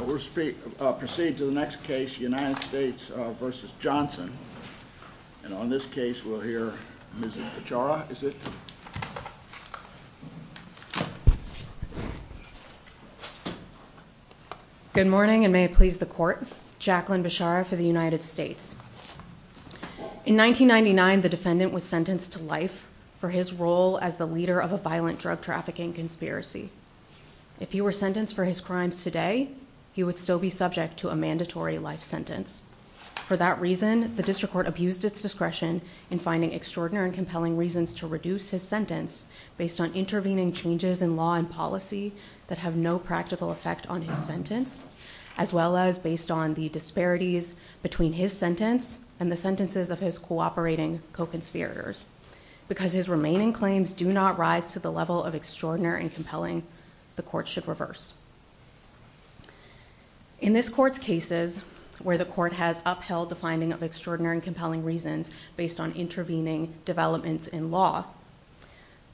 We'll proceed to the next case, United States v. Johnson. And on this case, we'll hear Ms. Beshara. Good morning, and may it please the Court. Jacqueline Beshara for the United States. In 1999, the defendant was sentenced to life for his role as the leader of a violent drug trafficking conspiracy. If he were sentenced for his crimes today, he would still be subject to a mandatory life sentence. For that reason, the district court abused its discretion in finding extraordinary and compelling reasons to reduce his sentence based on intervening changes in law and policy that have no practical effect on his sentence, as well as based on the disparities between his sentence and the sentences of his cooperating co-conspirators. Because his remaining claims do not rise to the level of extraordinary and compelling, the court should reverse. In this court's cases, where the court has upheld the finding of extraordinary and compelling reasons based on intervening developments in law,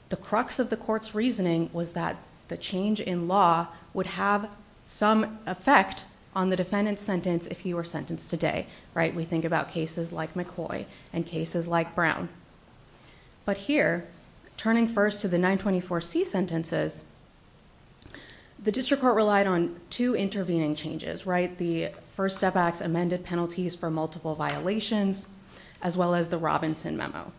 the crux of the court's reasoning was that the change in law would have some effect on the defendant's sentence if he were sentenced today. We think about cases like McCoy and cases like Brown. But here, turning first to the 924C sentences, the district court relied on two intervening changes. The First Step Act's amended penalties for multiple violations, as well as the Robinson Memo.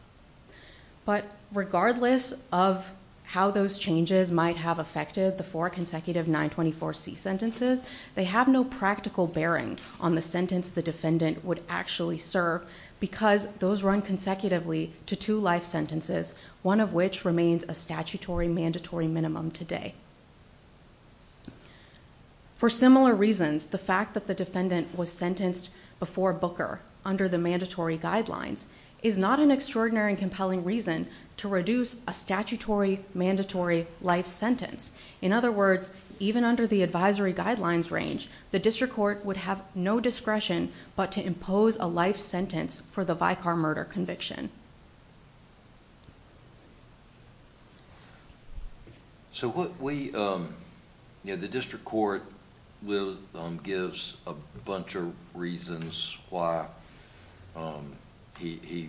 But regardless of how those changes might have affected the four consecutive 924C sentences, they have no practical bearing on the sentence the defendant would actually serve because those run consecutively to two life sentences, one of which remains a statutory mandatory minimum today. For similar reasons, the fact that the defendant was sentenced before Booker under the mandatory guidelines is not an extraordinary and compelling reason to reduce a statutory mandatory life sentence. In other words, even under the advisory guidelines range, the district court would have no discretion but to impose a life sentence for the Vicar murder conviction. The district court gives a bunch of reasons why he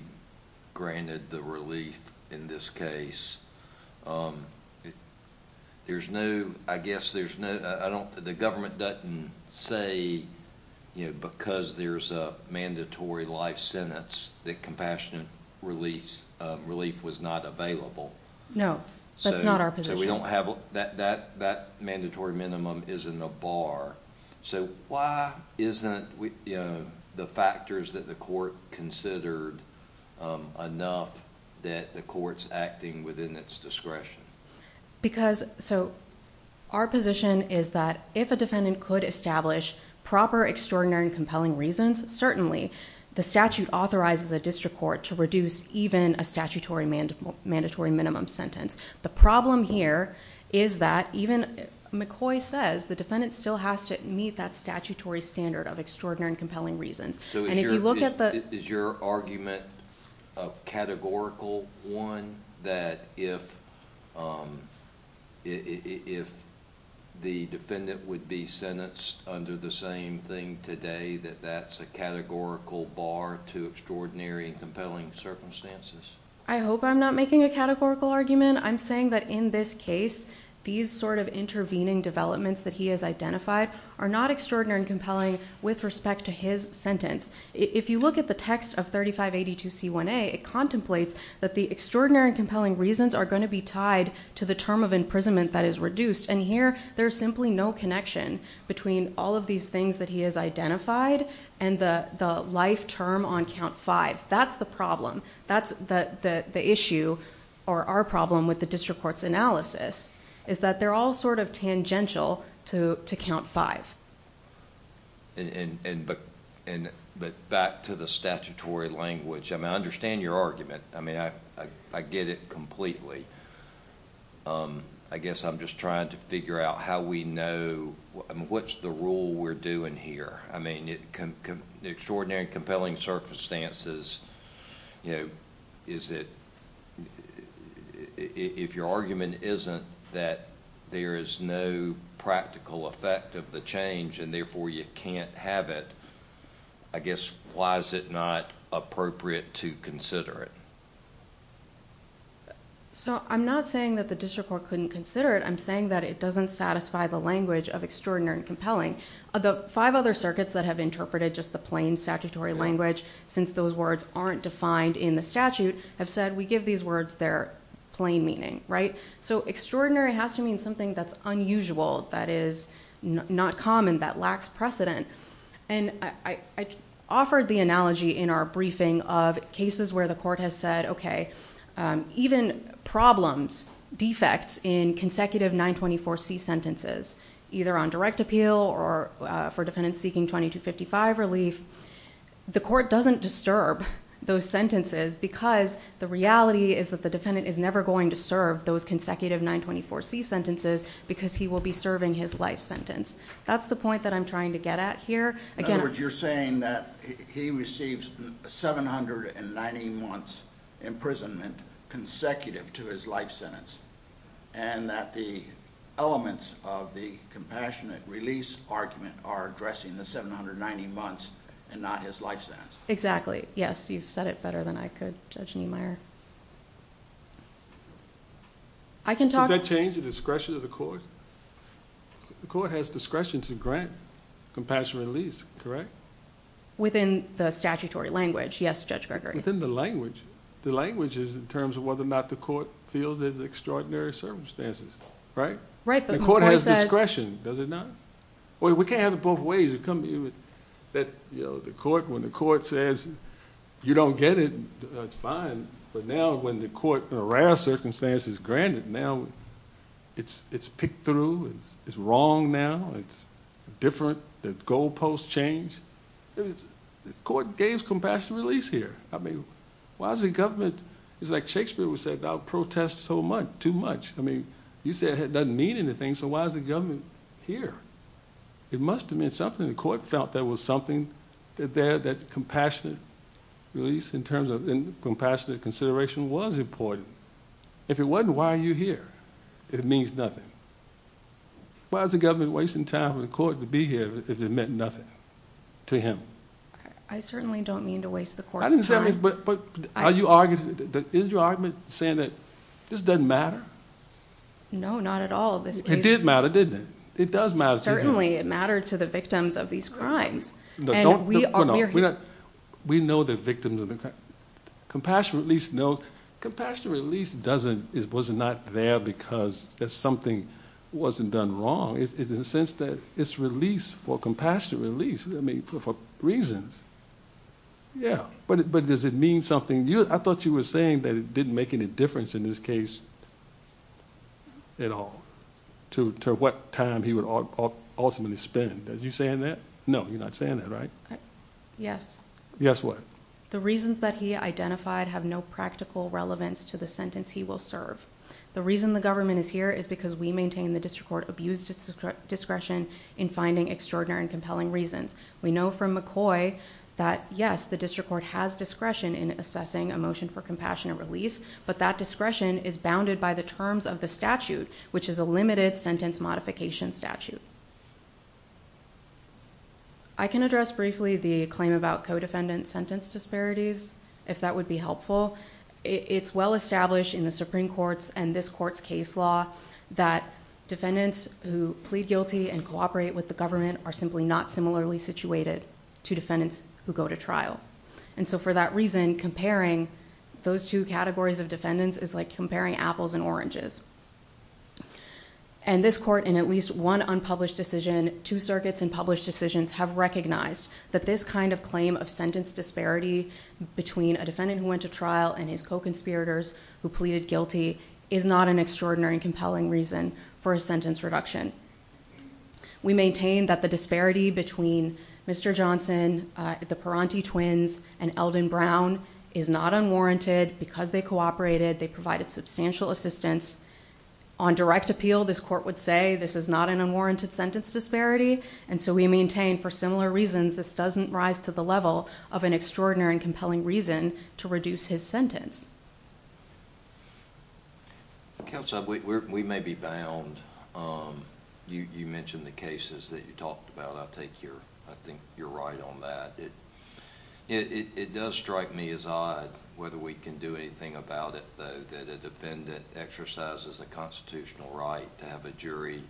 granted the relief in this case. The government doesn't say because there's a mandatory life sentence that compassionate relief was not available. No, that's not our position. So that mandatory minimum isn't a bar. So why isn't the factors that the court considered enough that the court's acting within its discretion? Our position is that if a defendant could establish proper, extraordinary, and compelling reasons, certainly the statute authorizes a district court to reduce even a statutory mandatory minimum sentence. The problem here is that even McCoy says the defendant still has to meet that statutory standard of extraordinary and compelling reasons. Is your argument a categorical one that if the defendant would be sentenced under the same thing today that that's a categorical bar to extraordinary and compelling circumstances? I hope I'm not making a categorical argument. I'm saying that in this case, these sort of intervening developments that he has identified are not extraordinary and compelling with respect to his sentence. If you look at the text of 3582C1A, it contemplates that the extraordinary and compelling reasons are going to be tied to the term of imprisonment that is reduced. And here, there's simply no connection between all of these things that he has identified and the life term on count five. That's the problem. That's the issue or our problem with the district court's analysis is that they're all sort of tangential to count five. But back to the statutory language, I understand your argument. I get it completely. I guess I'm just trying to figure out how we know, what's the rule we're doing here? I mean, extraordinary and compelling circumstances, if your argument isn't that there is no practical effect of the change and therefore you can't have it, I guess, why is it not appropriate to consider it? I'm not saying that the district court couldn't consider it. I'm saying that it doesn't satisfy the language of extraordinary and compelling. The five other circuits that have interpreted just the plain statutory language since those words aren't defined in the statute have said, we give these words their plain meaning. So extraordinary has to mean something that's unusual, that is not common, that lacks precedent. And I offered the analogy in our briefing of cases where the court has said, okay, even problems, defects in consecutive 924C sentences, either on direct appeal or for defendants seeking 2255 relief, the court doesn't disturb those sentences because the reality is that the defendant is never going to serve those consecutive 924C sentences because he will be serving his life sentence. That's the point that I'm trying to get at here. In other words, you're saying that he receives 790 months imprisonment consecutive to his life sentence and that the elements of the compassionate release argument are addressing the 790 months and not his life sentence. Exactly. Yes, you've said it better than I could, Judge Niemeyer. Does that change the discretion of the court? The court has discretion to grant compassionate release, correct? Within the statutory language, yes, Judge Gregory. Within the language. The language is in terms of whether or not the court feels there's extraordinary circumstances, right? Right. The court has discretion, does it not? We can't have it both ways. When the court says you don't get it, that's fine, but now when the court in a rare circumstance is granted, now it's picked through, it's wrong now, it's different, the goal post changed. The court gave compassionate release here. Why is the government, it's like Shakespeare would say, don't protest too much. You said it doesn't mean anything, so why is the government here? It must have meant something. The court felt there was something there, that compassionate release in terms of compassionate consideration was important. If it wasn't, why are you here? It means nothing. Why is the government wasting time for the court to be here if it meant nothing to him? I certainly don't mean to waste the court's time. Is your argument saying that this doesn't matter? No, not at all. It did matter, didn't it? It does matter. Certainly, it mattered to the victims of these crimes. We know the victims of the crimes. Compassionate release, no. Compassionate release was not there because something wasn't done wrong. It's released for compassionate release, for reasons. Yeah, but does it mean something? I thought you were saying that it didn't make any difference in this case at all to what time he would ultimately spend. Are you saying that? No, you're not saying that, right? Yes. Yes, what? The reasons that he identified have no practical relevance to the sentence he will serve. The reason the government is here is because we maintain the district court abuse discretion in finding extraordinary and compelling reasons. We know from McCoy that, yes, the district court has discretion in assessing a motion for compassionate release, but that discretion is bounded by the terms of the statute, which is a limited sentence modification statute. I can address briefly the claim about co-defendant sentence disparities, if that would be helpful. It's well established in the Supreme Court's and this court's case law that defendants who plead guilty and cooperate with the government are simply not similarly situated to defendants who go to trial. For that reason, comparing those two categories of defendants is like comparing apples and oranges. This court, in at least one unpublished decision, two circuits in published decisions have recognized that this kind of claim of sentence disparity between a defendant who went to trial and his co-conspirators who pleaded guilty is not an extraordinary and compelling reason for a sentence reduction. We maintain that the disparity between Mr. Johnson, the Perante twins, and Eldon Brown is not unwarranted. Because they cooperated, they provided substantial assistance. On direct appeal, this court would say this is not an unwarranted sentence disparity, and so we maintain for similar reasons this doesn't rise to the level of an extraordinary and compelling reason to reduce his sentence. Counsel, we may be bound. You mentioned the cases that you talked about. I think you're right on that. It does strike me as odd whether we can do anything about it, though, that a defendant exercises a constitutional right to have a jury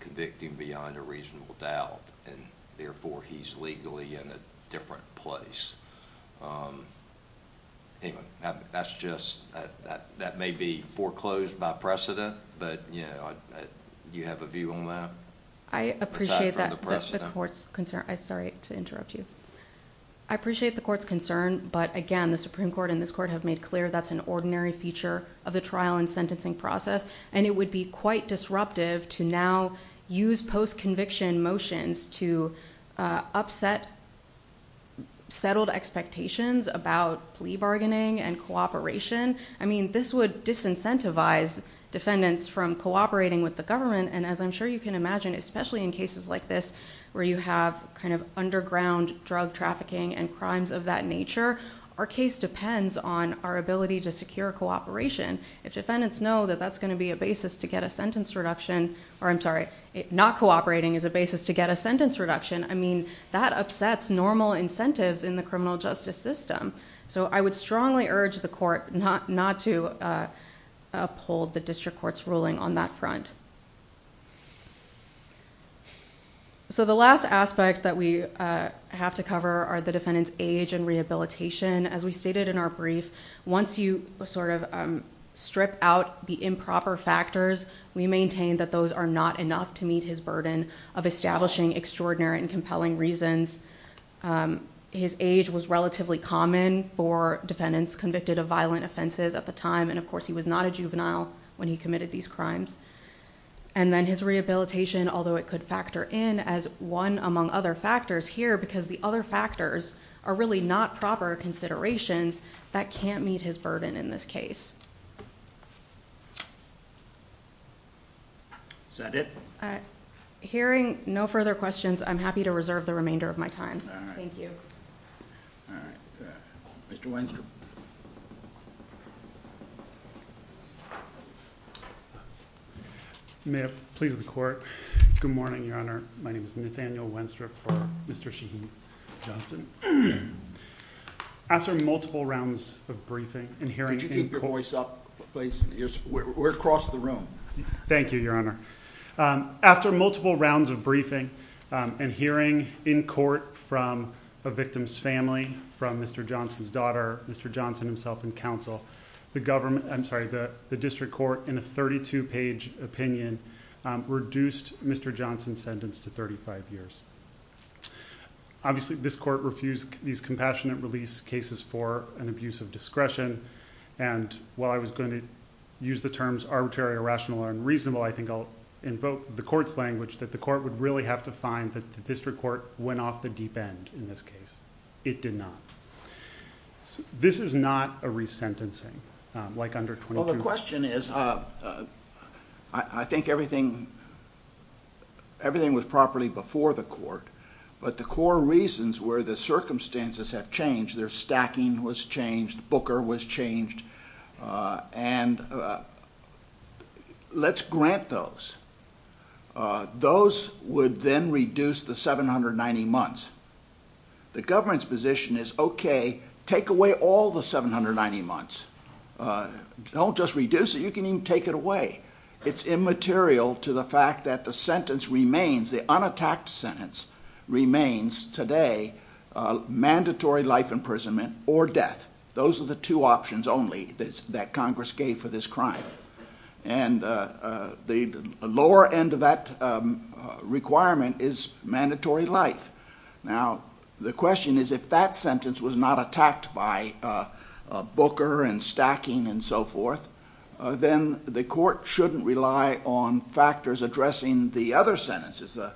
convict him beyond a reasonable doubt, and therefore he's legally in a different place. That may be foreclosed by precedent, but do you have a view on that? I appreciate the court's concern. Sorry to interrupt you. I appreciate the court's concern, but again, the Supreme Court and this court have made clear that's an ordinary feature of the trial and sentencing process, and it would be quite disruptive to now use post-conviction motions to upset settled expectations about plea bargaining and cooperation. This would disincentivize defendants from cooperating with the government, and as I'm sure you can imagine, especially in cases like this where you have underground drug trafficking and crimes of that nature, our case depends on our ability to secure cooperation. If defendants know that that's going to be a basis to get a sentence reduction, or I'm sorry, not cooperating is a basis to get a sentence reduction, I mean, that upsets normal incentives in the criminal justice system. I would strongly urge the court not to uphold the district court's ruling on that front. The last aspect that we have to cover are the defendant's age and rehabilitation. As we stated in our brief, once you strip out the improper factors, we maintain that those are not enough to meet his burden of establishing extraordinary and compelling reasons. His age was relatively common for defendants convicted of violent offenses at the time, and of course he was not a juvenile when he committed these crimes. And then his rehabilitation, although it could factor in as one among other factors here because the other factors are really not proper considerations, that can't meet his burden in this case. Is that it? Hearing no further questions, I'm happy to reserve the remainder of my time. All right. Thank you. All right. Mr. Wenstrup. May it please the court. Good morning, Your Honor. My name is Nathaniel Wenstrup for Mr. Shaheen Johnson. After multiple rounds of briefing and hearing in court... Could you keep your voice up, please? We're across the room. Thank you, Your Honor. After multiple rounds of briefing and hearing in court from a victim's family, from Mr. Johnson's daughter, Mr. Johnson himself in counsel, the government... I'm sorry, the district court in a 32-page opinion reduced Mr. Johnson's sentence to 35 years. Obviously, this court refused these compassionate release cases for an abuse of discretion. And while I was going to use the terms arbitrary, irrational, and unreasonable, I think I'll invoke the court's language that the court would really have to find that the district court went off the deep end in this case. It did not. This is not a resentencing like under... Well, the question is, I think everything was properly before the court, but the core reasons were the circumstances have changed. Their stacking was changed. Booker was changed. And let's grant those. Those would then reduce the 790 months. The government's position is, okay, take away all the 790 months. Don't just reduce it. You can even take it away. It's immaterial to the fact that the sentence remains, the unattacked sentence remains today mandatory life imprisonment or death. Those are the two options only that Congress gave for this crime. And the lower end of that requirement is mandatory life. Now, the question is if that sentence was not attacked by Booker and stacking and so forth, then the court shouldn't rely on factors addressing the other sentences, the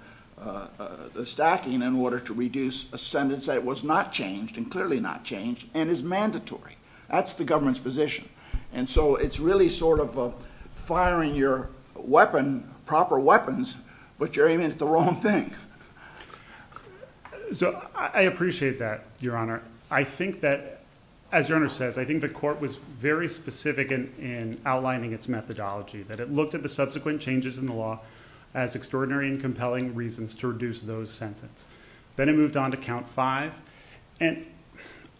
stacking in order to reduce a sentence that was not changed and clearly not changed and is mandatory. That's the government's position. And so it's really sort of firing your weapon, proper weapons, but you're aiming at the wrong thing. So I appreciate that, Your Honor. I think that, as Your Honor says, I think the court was very specific in outlining its methodology, that it looked at the subsequent changes in the law as extraordinary and compelling reasons to reduce those sentences. Then it moved on to count five. And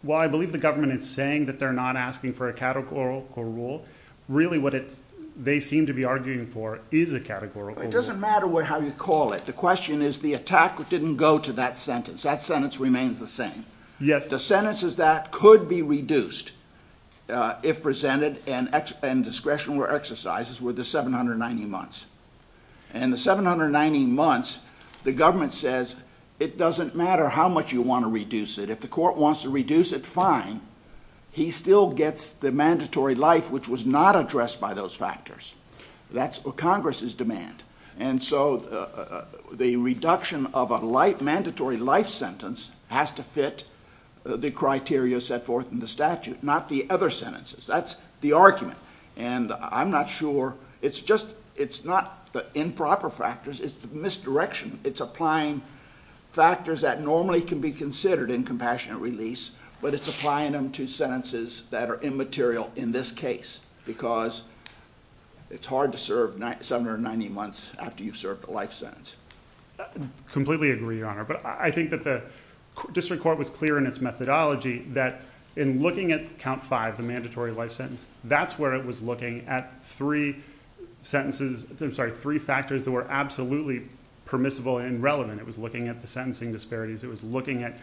while I believe the government is saying that they're not asking for a categorical rule, really what they seem to be arguing for is a categorical rule. It doesn't matter how you call it. The question is the attack didn't go to that sentence. That sentence remains the same. Yes. The sentences that could be reduced if presented and discretionary exercises were the 790 months. And the 790 months, the government says it doesn't matter how much you want to reduce it. If the court wants to reduce it, fine. He still gets the mandatory life, which was not addressed by those factors. That's what Congress is demanding. And so the reduction of a mandatory life sentence has to fit the criteria set forth in the statute, not the other sentences. That's the argument. And I'm not sure. It's just it's not the improper factors. It's the misdirection. It's applying factors that normally can be considered in compassionate release, but it's applying them to sentences that are immaterial in this case because it's hard to serve 790 months after you've served a life sentence. I completely agree, Your Honor. But I think that the district court was clear in its methodology that in looking at count five, the mandatory life sentence, that's where it was looking at three sentences... I'm sorry, three factors that were absolutely permissible and relevant. It was looking at the sentencing disparities. It was looking at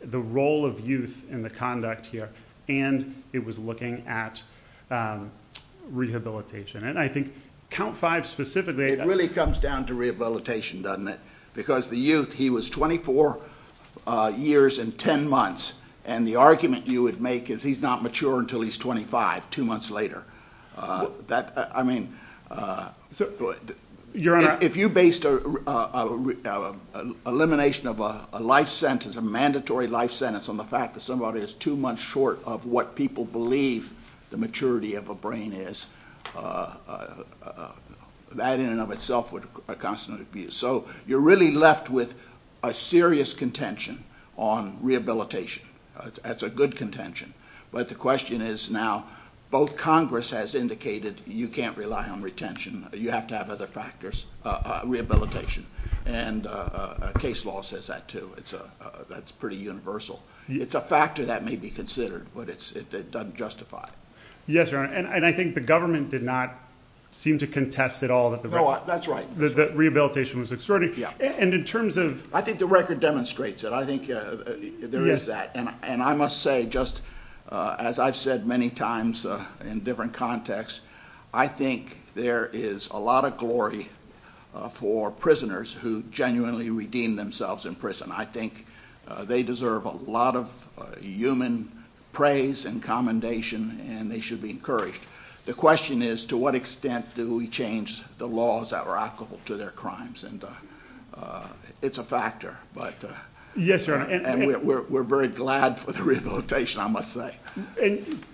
the role of youth in the conduct here. And it was looking at rehabilitation. And I think count five specifically... It really comes down to rehabilitation, doesn't it? Because the youth, he was 24 years and 10 months. And the argument you would make is he's not mature until he's 25, two months later. I mean, if you based elimination of a life sentence, a mandatory life sentence, on the nature of what people believe the maturity of a brain is, that in and of itself would... So you're really left with a serious contention on rehabilitation. That's a good contention. But the question is now both Congress has indicated you can't rely on retention. You have to have other factors, rehabilitation. And case law says that, too. That's pretty universal. It's a factor that may be considered, but it doesn't justify it. Yes, Your Honor. And I think the government did not seem to contest at all... No, that's right.... that rehabilitation was extraordinary. Yeah. And in terms of... I think the record demonstrates it. I think there is that. And I must say, just as I've said many times in different contexts, I think there is a lot of glory for prisoners who genuinely redeem themselves in prison. I think they deserve a lot of human praise and commendation, and they should be encouraged. The question is, to what extent do we change the laws that are applicable to their crimes? And it's a factor, but... Yes, Your Honor. And we're very glad for the rehabilitation, I must say.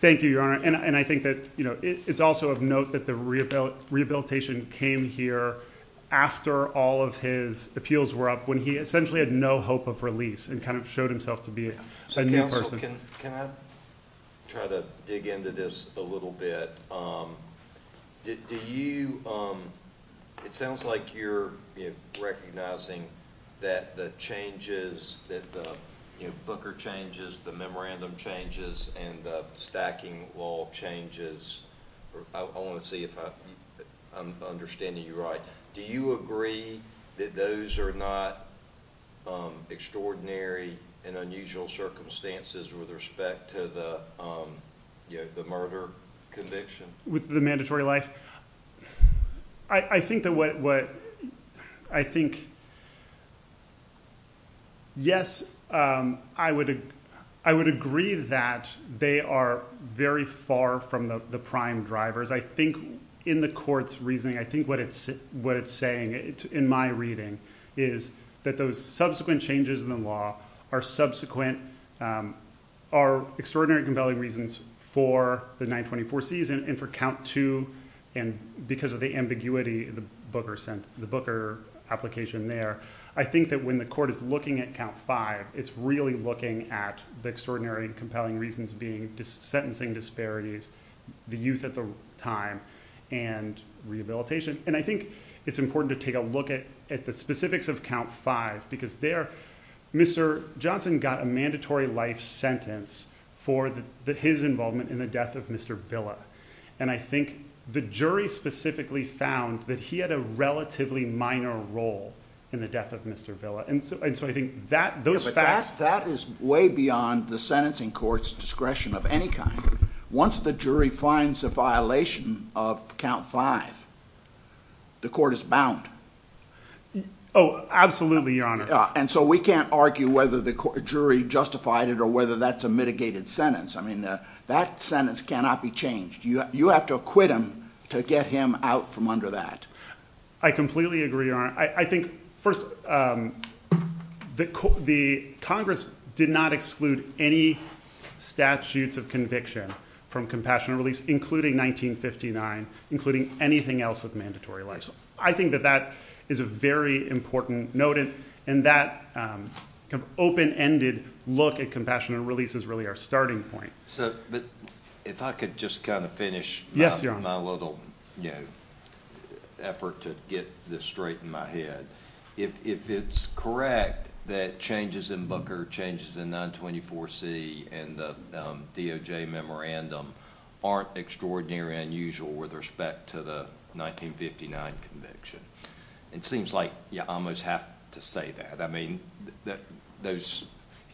Thank you, Your Honor. And I think that it's also of note that the rehabilitation came here after all of his appeals were up, when he essentially had no hope of release and kind of showed himself to be a new person. So, counsel, can I try to dig into this a little bit? Do you... It sounds like you're recognizing that the changes, that the booker changes, the memorandum changes, and the stacking wall changes. I want to see if I'm understanding you right. Do you agree that those are not extraordinary and unusual circumstances with respect to the murder conviction? With the mandatory life? I think that what... I think... Yes, I would agree that they are very far from the prime drivers. I think in the court's reasoning, I think what it's saying, in my reading, is that those subsequent changes in the law are subsequent, are extraordinary and compelling reasons for the 924 season and for count two, and because of the ambiguity, the booker application there. I think that when the court is looking at count five, it's really looking at the extraordinary and compelling reasons being sentencing disparities, the youth at the time, and rehabilitation. And I think it's important to take a look at the specifics of count five because there, Mr. Johnson got a mandatory life sentence for his involvement in the death of Mr. Villa. And I think the jury specifically found that he had a relatively minor role in the death of Mr. Villa. And so I think those facts... But that is way beyond the sentencing court's discretion of any kind. Once the jury finds a violation of count five, the court is bound. Oh, absolutely, Your Honor. And so we can't argue whether the jury justified it or whether that's a mitigated sentence. I mean, that sentence cannot be changed. You have to acquit him to get him out from under that. I completely agree, Your Honor. I think, first, the Congress did not exclude any statutes of conviction from compassionate release, including 1959, including anything else with mandatory life. I think that that is a very important note, and that open-ended look at compassionate release is really our starting point. But if I could just kind of finish my little effort to get this straight in my head. If it's correct that changes in Booker, changes in 924C, and the DOJ memorandum aren't extraordinarily unusual with respect to the 1959 conviction, it seems like you almost have to say that. I mean, if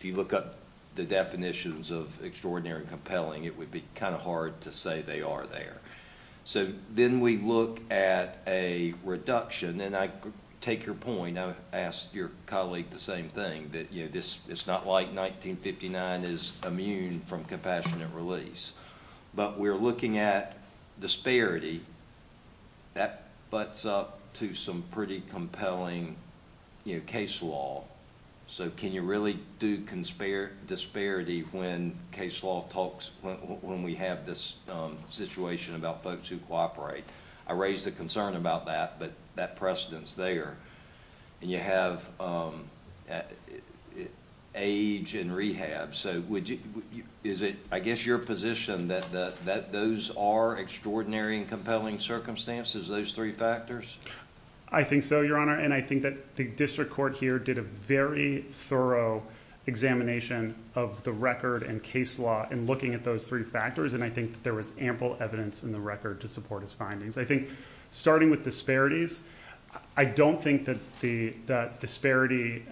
you look up the definitions of extraordinary and compelling, it would be kind of hard to say they are there. So then we look at a reduction, and I take your point. I would ask your colleague the same thing, that it's not like 1959 is immune from compassionate release. But we're looking at disparity. That butts up to some pretty compelling case law. So can you really do disparity when case law talks, when we have this situation about folks who cooperate? I raised a concern about that, but that precedent's there. And you have age and rehab. Is it, I guess, your position that those are extraordinary and compelling circumstances, those three factors? I think so, Your Honor, and I think that the district court here did a very thorough examination of the record and case law in looking at those three factors, and I think that there was ample evidence in the record to support its findings. I think starting with disparities, I don't think that the disparity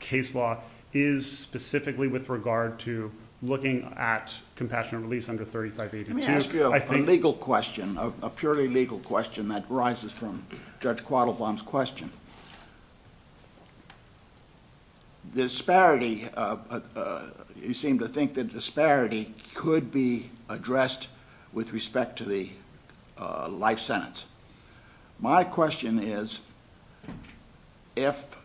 case law is specifically with regard to looking at compassionate release under 3582. Let me ask you a legal question, a purely legal question that arises from Judge Quattlebaum's question. Disparity, you seem to think that disparity could be addressed with respect to the life sentence. My question is, if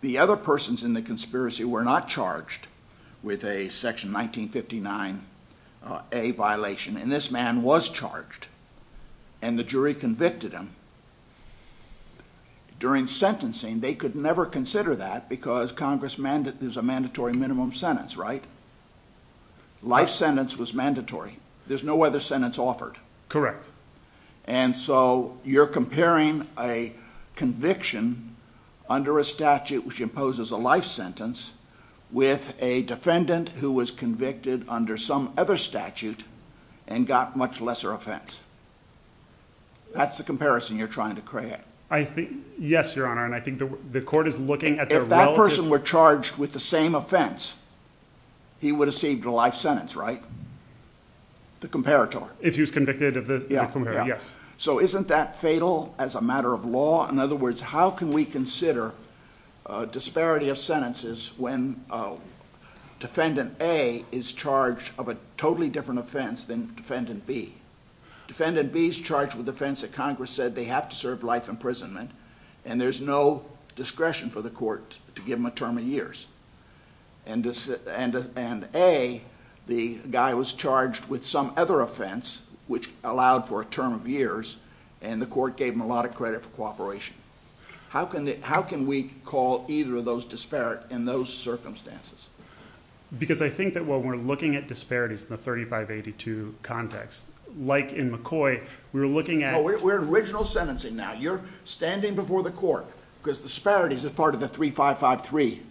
the other persons in the conspiracy were not charged with a Section 1959A violation, and this man was charged, and the jury convicted him, during sentencing, they could never consider that because there's a mandatory minimum sentence, right? Life sentence was mandatory. There's no other sentence offered. Correct. And so you're comparing a conviction under a statute which imposes a life sentence with a defendant who was convicted under some other statute and got much lesser offense. That's the comparison you're trying to create. Yes, Your Honor, and I think the court is looking at their relative... If that person were charged with the same offense, he would have received a life sentence, right? The comparator. If he was convicted of the comparator, yes. So isn't that fatal as a matter of law? In other words, how can we consider disparity of sentences when Defendant A is charged of a totally different offense than Defendant B? Defendant B is charged with the offense that Congress said they have to serve life imprisonment, and there's no discretion for the court to give him a term of years. And A, the guy was charged with some other offense which allowed for a term of years, and the court gave him a lot of credit for cooperation. How can we call either of those disparate in those circumstances? Because I think that when we're looking at disparities in the 3582 context, like in McCoy, we're looking at... We're in original sentencing now. You're standing before the court because disparities are part of the 3553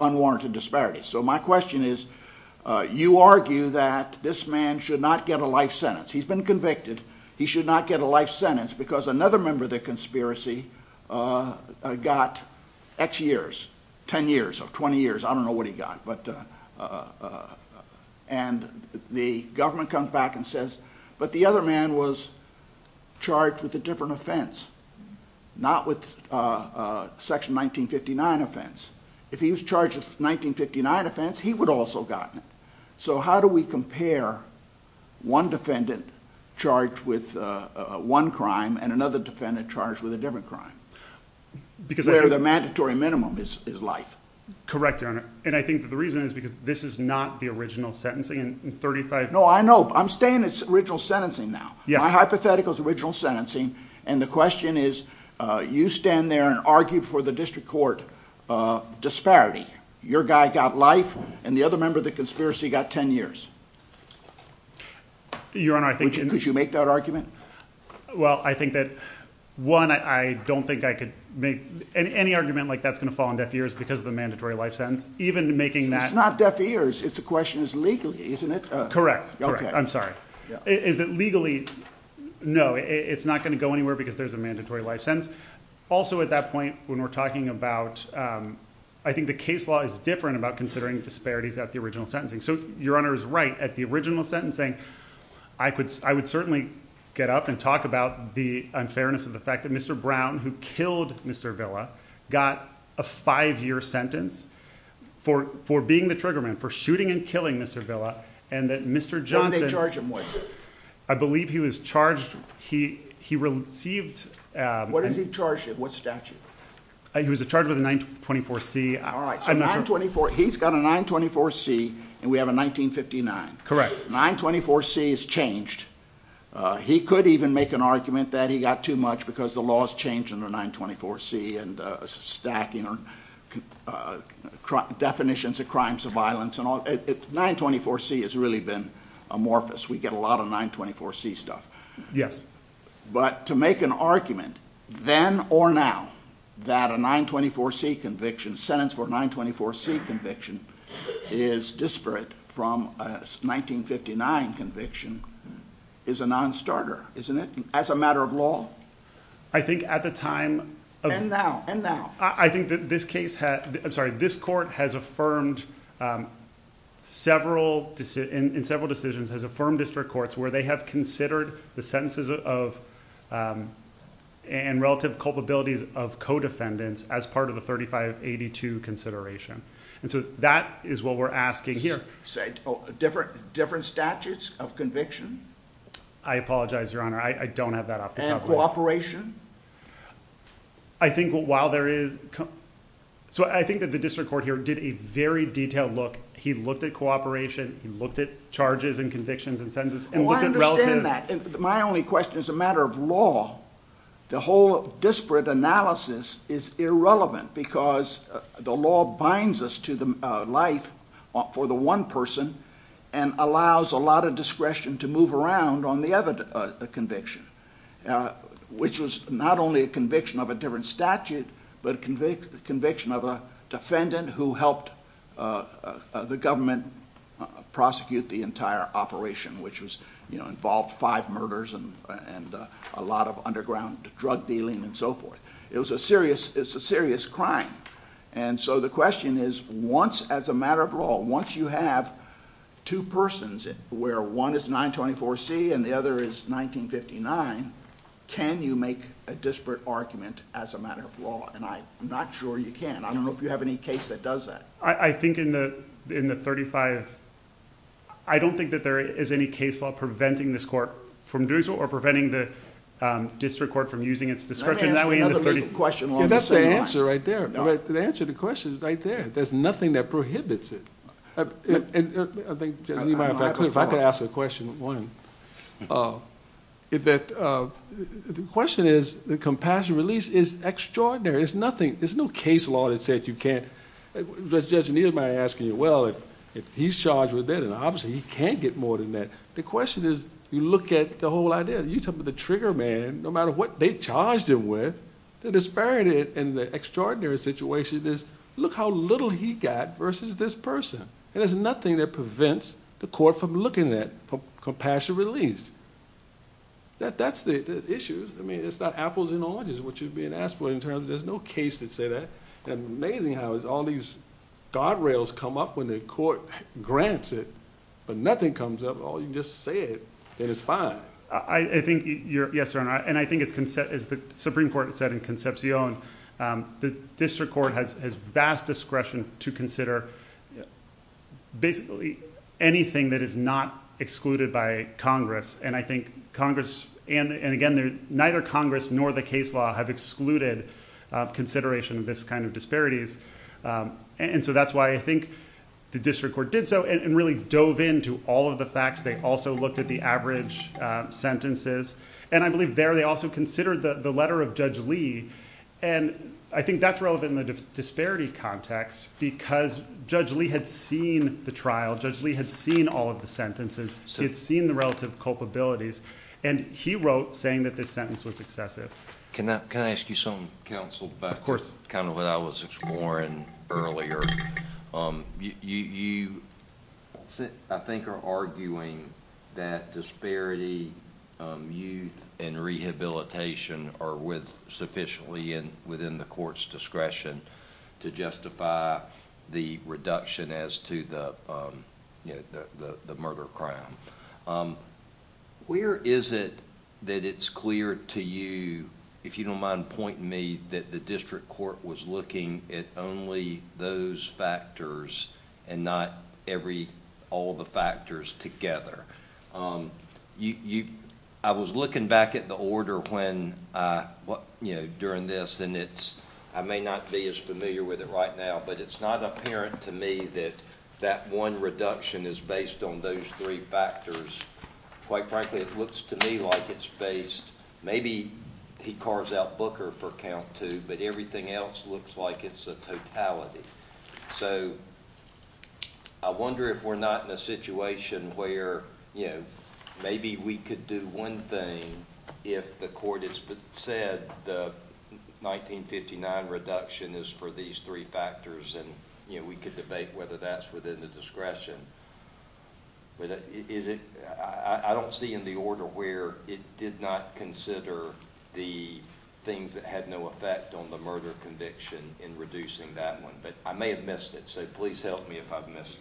unwarranted disparities. So my question is, you argue that this man should not get a life sentence. He's been convicted. He should not get a life sentence because another member of the conspiracy got X years, 10 years of 20 years. I don't know what he got, but... And the government comes back and says, but the other man was charged with a different offense, not with a section 1959 offense. If he was charged with a 1959 offense, he would also have gotten it. So how do we compare one defendant charged with one crime and another defendant charged with a different crime? Where the mandatory minimum is life. Correct, Your Honor. And I think that the reason is because this is not the original sentencing in 35... No, I know. I'm staying in original sentencing now. My hypothetical is original sentencing, and the question is you stand there and argue for the district court disparity. Your guy got life, and the other member of the conspiracy got 10 years. Your Honor, I think... Could you make that argument? Well, I think that, one, I don't think I could make... Any argument like that's going to fall on deaf ears because of the mandatory life sentence. Even making that... It's not deaf ears. It's a question of legally, isn't it? Correct. I'm sorry. Is it legally? Legally, no. It's not going to go anywhere because there's a mandatory life sentence. Also, at that point, when we're talking about... I think the case law is different about considering disparities at the original sentencing. So, Your Honor is right. At the original sentencing, I would certainly get up and talk about the unfairness of the fact that Mr. Brown, who killed Mr. Villa, got a five-year sentence for being the trigger man, for shooting and killing Mr. Villa, and that Mr. Johnson... What did they charge him with? I believe he was charged... He received... What is he charged with? What statute? He was charged with a 924C. All right. So, 924... He's got a 924C, and we have a 1959. Correct. 924C is changed. He could even make an argument that he got too much because the law has changed under 924C and stacking definitions of crimes of violence. 924C has really been amorphous. We get a lot of 924C stuff. Yes. But to make an argument then or now that a 924C conviction, sentence for a 924C conviction is disparate from a 1959 conviction, is a nonstarter, isn't it, as a matter of law? I think at the time... And now. And now. I think that this case... I'm sorry. This court has affirmed several... in several decisions, has affirmed district courts where they have considered the sentences and relative culpabilities of co-defendants as part of the 3582 consideration. That is what we're asking here. Different statutes of conviction? I apologize, Your Honor. I don't have that off the top of my head. And cooperation? I think while there is... I think that the district court here did a very detailed look. He looked at cooperation. He looked at charges and convictions and sentences and looked at relative... I understand that. My only question is a matter of law. The whole disparate analysis is irrelevant because the law binds us to life for the one person and allows a lot of discretion to move around on the other conviction, which was not only a conviction of a different statute, but a conviction of a defendant who helped the government prosecute the entire operation, which involved five murders and a lot of underground drug dealing and so forth. It was a serious... it's a serious crime. And so the question is once, as a matter of law, once you have two persons where one is 924C and the other is 1959, can you make a disparate argument as a matter of law? And I'm not sure you can. I don't know if you have any case that does that. I think in the 35... I don't think that there is any case law preventing this court from doing so or preventing the district court from using its discretion that way in the... Let me ask another legal question along the same line. That's the answer right there. The answer to the question is right there. There's nothing that prohibits it. I think, Judge, if I could ask a question, one. The question is the compassion release is extraordinary. It's nothing... there's no case law that says you can't... Judge, neither am I asking you, well, if he's charged with it, and obviously he can't get more than that. The question is you look at the whole idea. You talk about the trigger man. No matter what they charged him with, the disparity in the extraordinary situation is, look how little he got versus this person. There's nothing that prevents the court from looking at compassion release. That's the issue. It's not apples and oranges, what you're being asked for, in terms of there's no case that says that. Amazing how all these guardrails come up when the court grants it, but nothing comes up. You just say it, and it's fine. Yes, Your Honor. I think as the Supreme Court said in Concepcion, the district court has vast discretion to consider basically anything that is not excluded by Congress. I think Congress, and again, neither Congress nor the case law have excluded consideration of this kind of disparities. That's why I think the district court did so and really dove into all of the facts. They also looked at the average sentences. I believe there they also considered the letter of Judge Lee. I think that's relevant in the disparity context because Judge Lee had seen the trial. Judge Lee had seen all of the sentences. He had seen the relative culpabilities. He wrote saying that this sentence was excessive. Can I ask you something, counsel, about what I was exploring earlier? You, I think, are arguing that disparity, youth, and rehabilitation are sufficiently within the court's discretion to justify the reduction as to the murder crime. Where is it that it's clear to you, if you don't mind pointing me, that the district court was looking at only those factors and not all the factors together? I was looking back at the order during this, and I may not be as familiar with it right now, but it's not apparent to me that that one reduction is based on those three factors. Quite frankly, it looks to me like it's based... but everything else looks like it's a totality. I wonder if we're not in a situation where maybe we could do one thing if the court has said the 1959 reduction is for these three factors and we could debate whether that's within the discretion. I don't see in the order where it did not consider the things that had no effect on the murder conviction in reducing that one. But I may have missed it, so please help me if I've missed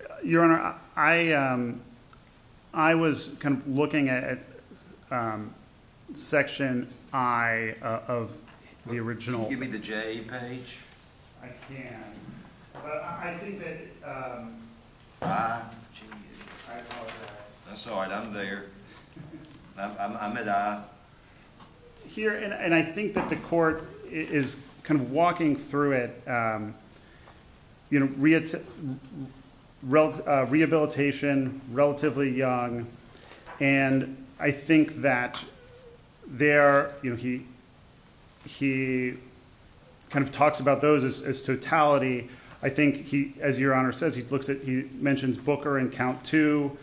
it. Your Honor, I was looking at Section I of the original... Can you give me the J page? I can. But I think that... I? I apologize. That's all right, I'm there. I'm at I. Here, and I think that the court is kind of walking through it. Rehabilitation, relatively young, and I think that there... he kind of talks about those as totality. I think he, as Your Honor says, he mentions Booker in count two,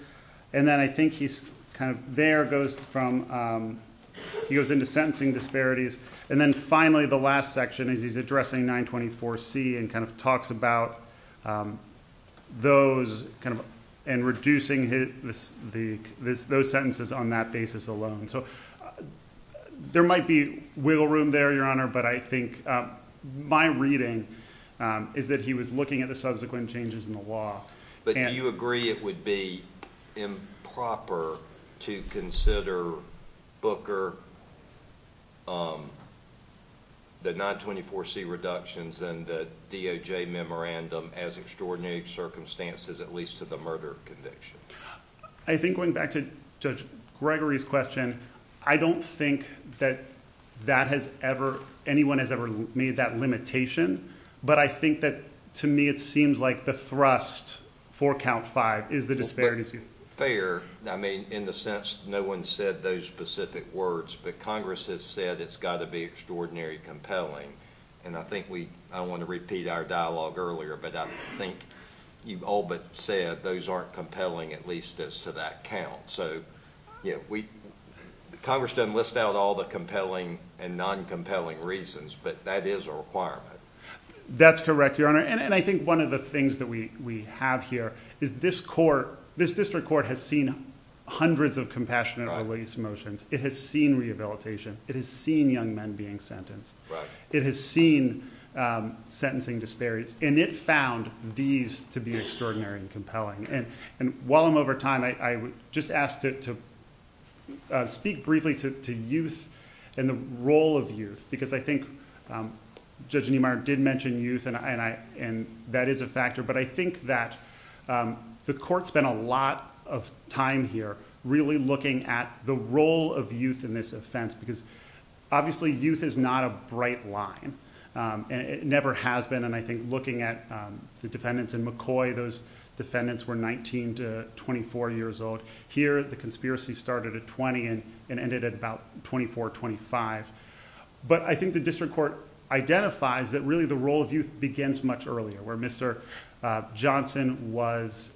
and then I think he's kind of... there goes from... he goes into sentencing disparities, and then finally the last section is he's addressing 924C and kind of talks about those and reducing those sentences on that basis alone. So there might be wiggle room there, Your Honor, but I think my reading is that he was looking at the subsequent changes in the law. Do you agree it would be improper to consider Booker the 924C reductions and the DOJ memorandum as extraordinary circumstances, at least to the murder conviction? I think going back to Judge Gregory's question, I don't think that anyone has ever made that limitation, but I think that, to me, it seems like the thrust for count five is the disparities. Fair. I mean, in the sense no one said those specific words, but Congress has said it's got to be extraordinarily compelling, and I think we... I don't want to repeat our dialogue earlier, but I think you've all but said those aren't compelling, at least as to that count. So, yeah, we... Congress doesn't list out all the compelling and non-compelling reasons, but that is a requirement. That's correct, Your Honor. And I think one of the things that we have here is this court... this district court has seen hundreds of compassionate release motions. It has seen rehabilitation. It has seen young men being sentenced. It has seen sentencing disparities, and it found these to be extraordinary and compelling. And while I'm over time, I would just ask to speak briefly to youth and the role of youth, because I think Judge Niemeyer did mention youth, and that is a factor, but I think that the court spent a lot of time here really looking at the role of youth in this offense, because obviously youth is not a bright line, and it never has been. And I think looking at the defendants in McCoy, those defendants were 19 to 24 years old. Here, the conspiracy started at 20 and ended at about 24, 25. But I think the district court identifies that really the role of youth begins much earlier, where Mr. Johnson was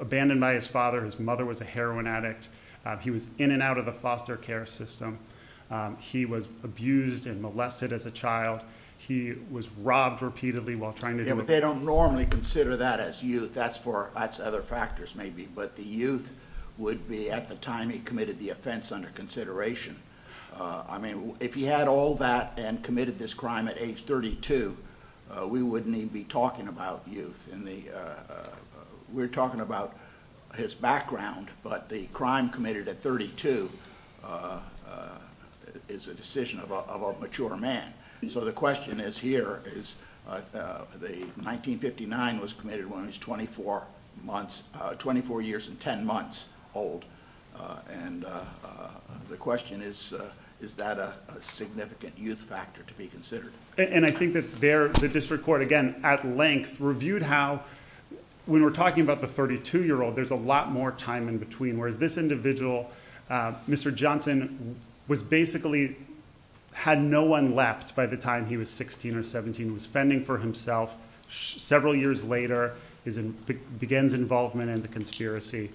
abandoned by his father. His mother was a heroin addict. He was in and out of the foster care system. He was abused and molested as a child. He was robbed repeatedly while trying to... Yeah, but they don't normally consider that as youth. That's for other factors maybe, but the youth would be at the time he committed the offense under consideration. I mean, if he had all that and committed this crime at age 32, we wouldn't even be talking about youth. We're talking about his background, but the crime committed at 32 is a decision of a mature man. So the question is here, the 1959 was committed when he was 24 years and 10 months old. And the question is, is that a significant youth factor to be considered? And I think that the district court, again, at length, reviewed how... when we're talking about the 32-year-old, there's a lot more time in between, whereas this individual, Mr. Johnson, was basically... had no one left by the time he was 16 or 17. He was fending for himself. Several years later, he begins involvement in the conspiracy.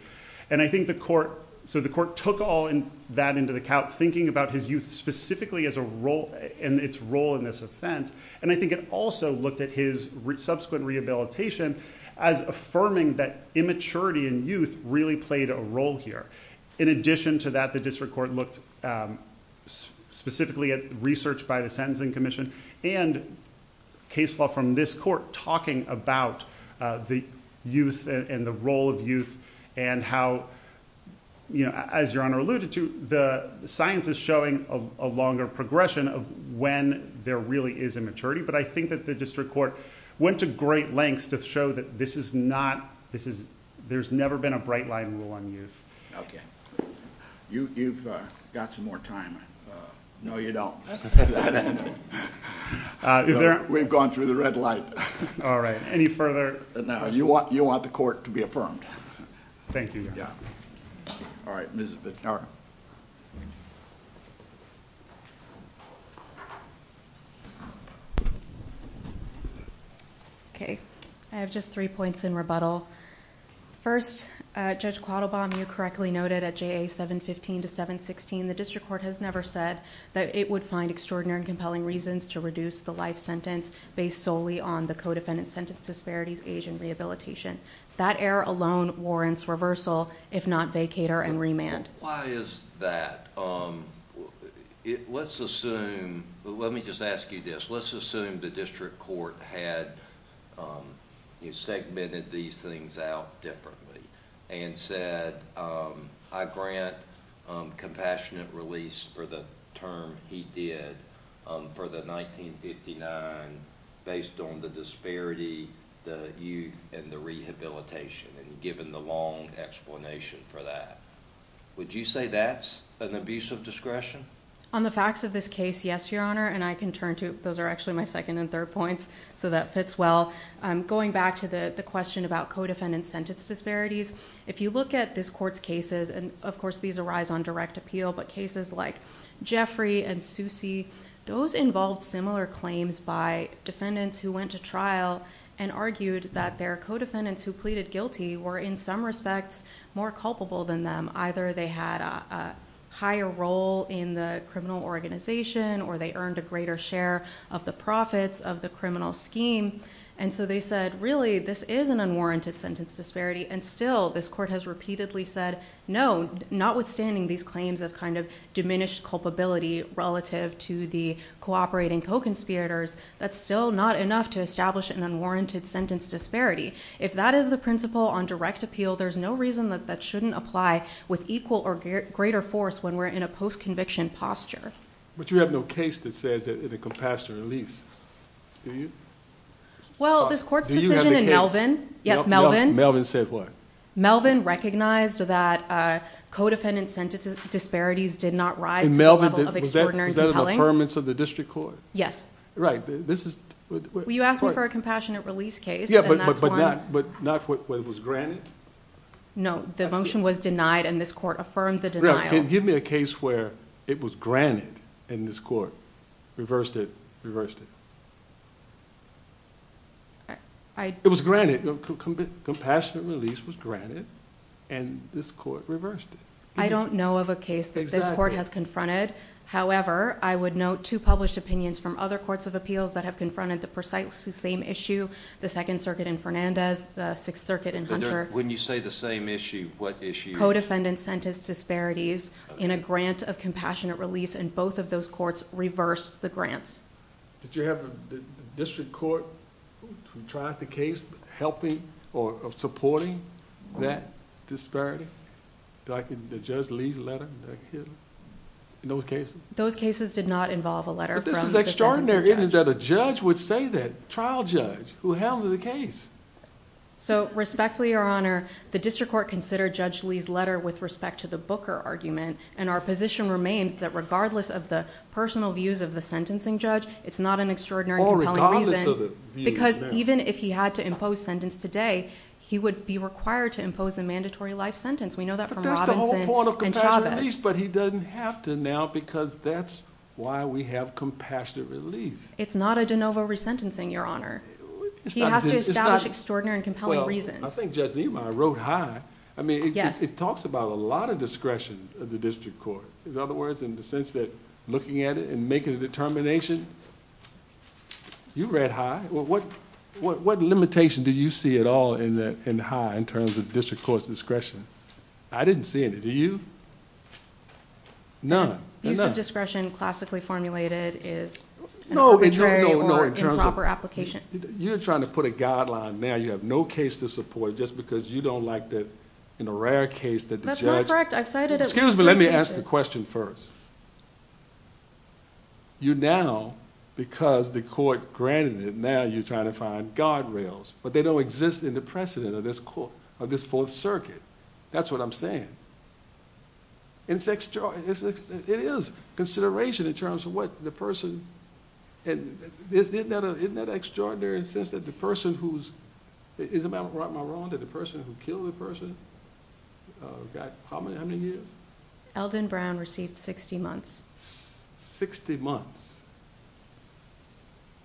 And I think the court... So the court took all that into account, thinking about his youth specifically as a role... and its role in this offense. And I think it also looked at his subsequent rehabilitation as affirming that immaturity in youth really played a role here. In addition to that, the district court looked specifically at research by the Sentencing Commission and case law from this court talking about the youth and the role of youth and how, you know, as Your Honor alluded to, the science is showing a longer progression of when there really is immaturity. But I think that the district court went to great lengths to show that this is not... there's never been a bright line rule on youth. You've got some more time. No, you don't. We've gone through the red light. All right. Any further... No, you want the court to be affirmed. Thank you, Your Honor. All right. Ms.... All right. Okay. I have just three points in rebuttal. First, Judge Quattlebaum, you correctly noted at JA 715 to 716, the district court has never said that it would find extraordinary and compelling reasons to reduce the life sentence based solely on the co-defendant sentence disparities, age, and rehabilitation. That error alone warrants reversal, if not vacator and remand. Why is that? Let's assume... let me just ask you this. Let's assume the district court had segmented these things out differently and said, I grant compassionate release for the term he did for the 1959 based on the disparity, the youth, and the rehabilitation, and given the long explanation for that. Would you say that's an abuse of discretion? On the facts of this case, yes, Your Honor, and I can turn to... those are actually my second and third points, so that fits well. Going back to the question about co-defendant sentence disparities, if you look at this court's cases, and of course these arise on direct appeal, but cases like Jeffrey and Susie, those involved similar claims by defendants who went to trial and argued that their co-defendants who pleaded guilty were in some respects more culpable than them. Either they had a higher role in the criminal organization, or they earned a greater share of the profits of the criminal scheme, and so they said, really, this is an unwarranted sentence disparity, and still this court has repeatedly said, no, notwithstanding these claims of diminished culpability relative to the cooperating co-conspirators, that's still not enough to establish an unwarranted sentence disparity. If that is the principle on direct appeal, there's no reason that that shouldn't apply with equal or greater force when we're in a post-conviction posture. But you have no case that says that it can pass to release. Do you? Well, this court's decision in Melvin... Do you have the case? Melvin said what? Melvin recognized that co-defendant sentence disparities did not rise... Was that an affirmance of the district court? Yes. Right. This is... Well, you asked me for a compassionate release case, and that's one... Yeah, but not where it was granted? No. The motion was denied, and this court affirmed the denial. Give me a case where it was granted, and this court reversed it, reversed it. It was granted. Compassionate release was granted, and this court reversed it. I don't know of a case that this court has confronted. However, I would note two published opinions from other courts of appeals that have confronted the precise same issue. The Second Circuit in Fernandez, the Sixth Circuit in Hunter... When you say the same issue, what issue? Co-defendant sentence disparities in a grant of compassionate release, and both of those courts reversed the grants. Did you have a district court who tried the case helping or supporting that disparity? The Judge Lee's letter? In those cases? Those cases did not involve a letter from the sentencing judge. But this is extraordinary, isn't it, that a judge would say that? Trial judge. Who handled the case? Respectfully, Your Honor, the district court considered Judge Lee's letter with respect to the Booker argument, and our position remains that regardless of the personal views of the sentencing judge, it's not an extraordinary compelling reason... Or regardless of the views. Because even if he had to impose sentence today, he would be required to impose the mandatory life sentence. We know that from Robinson and Chavez. But that's the whole point of compassionate release. But he doesn't have to now because that's why we have compassionate release. It's not a de novo resentencing, Your Honor. He has to establish extraordinary and compelling reasons. Well, I think Judge Niemeyer wrote high. I mean, it talks about a lot of discretion of the district court. In other words, in the sense that looking at it and making a determination... You read high? What limitation do you see at all in high in terms of district court's discretion? I didn't see any. Do you? None. Use of discretion classically formulated is... No, no, no.... an arbitrary or improper application. You're trying to put a guideline now. You have no case to support just because you don't like that in a rare case that the judge... That's not correct. I've cited it... Excuse me. Let me ask the question first. You now, because the court granted it, now you're trying to find guardrails. But, they don't exist in the precedent of this court, of this Fourth Circuit. That's what I'm saying. It's extraordinary. It is. Consideration in terms of what the person... Isn't that extraordinary in the sense that the person who's... Is it my wrong that the person who killed the person got how many years? Eldon Brown received 60 months. Sixty months.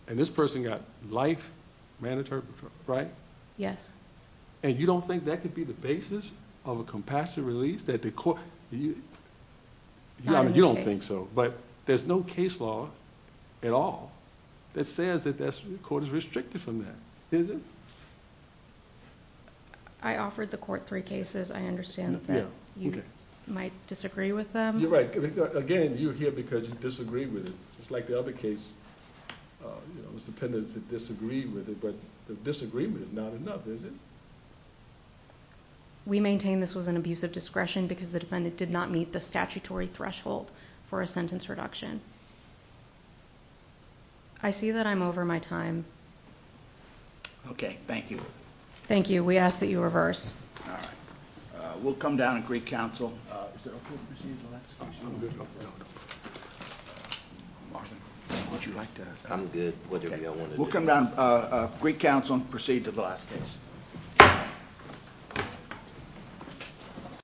And, this person got life mandatory, right? Yes. And, you don't think that could be the basis of a compassionate release that the court... You don't think so. But, there's no case law at all that says that the court is restricted from that. Is it? I offered the court three cases. I understand that you might disagree with them. You're right. Again, you're here because you disagree with it. It's like the other case. It was the defendants that disagreed with it. But, the disagreement is not enough, is it? We maintain this was an abuse of discretion because the defendant did not meet the statutory threshold for a sentence reduction. I see that I'm over my time. Okay. Thank you. Thank you. We ask that you reverse. All right. We'll come down to Greek Council. Is it okay to proceed to the last case? I'm good. Marvin, would you like to... I'm good. Whatever you all want to do. We'll come down to Greek Council and proceed to the last case.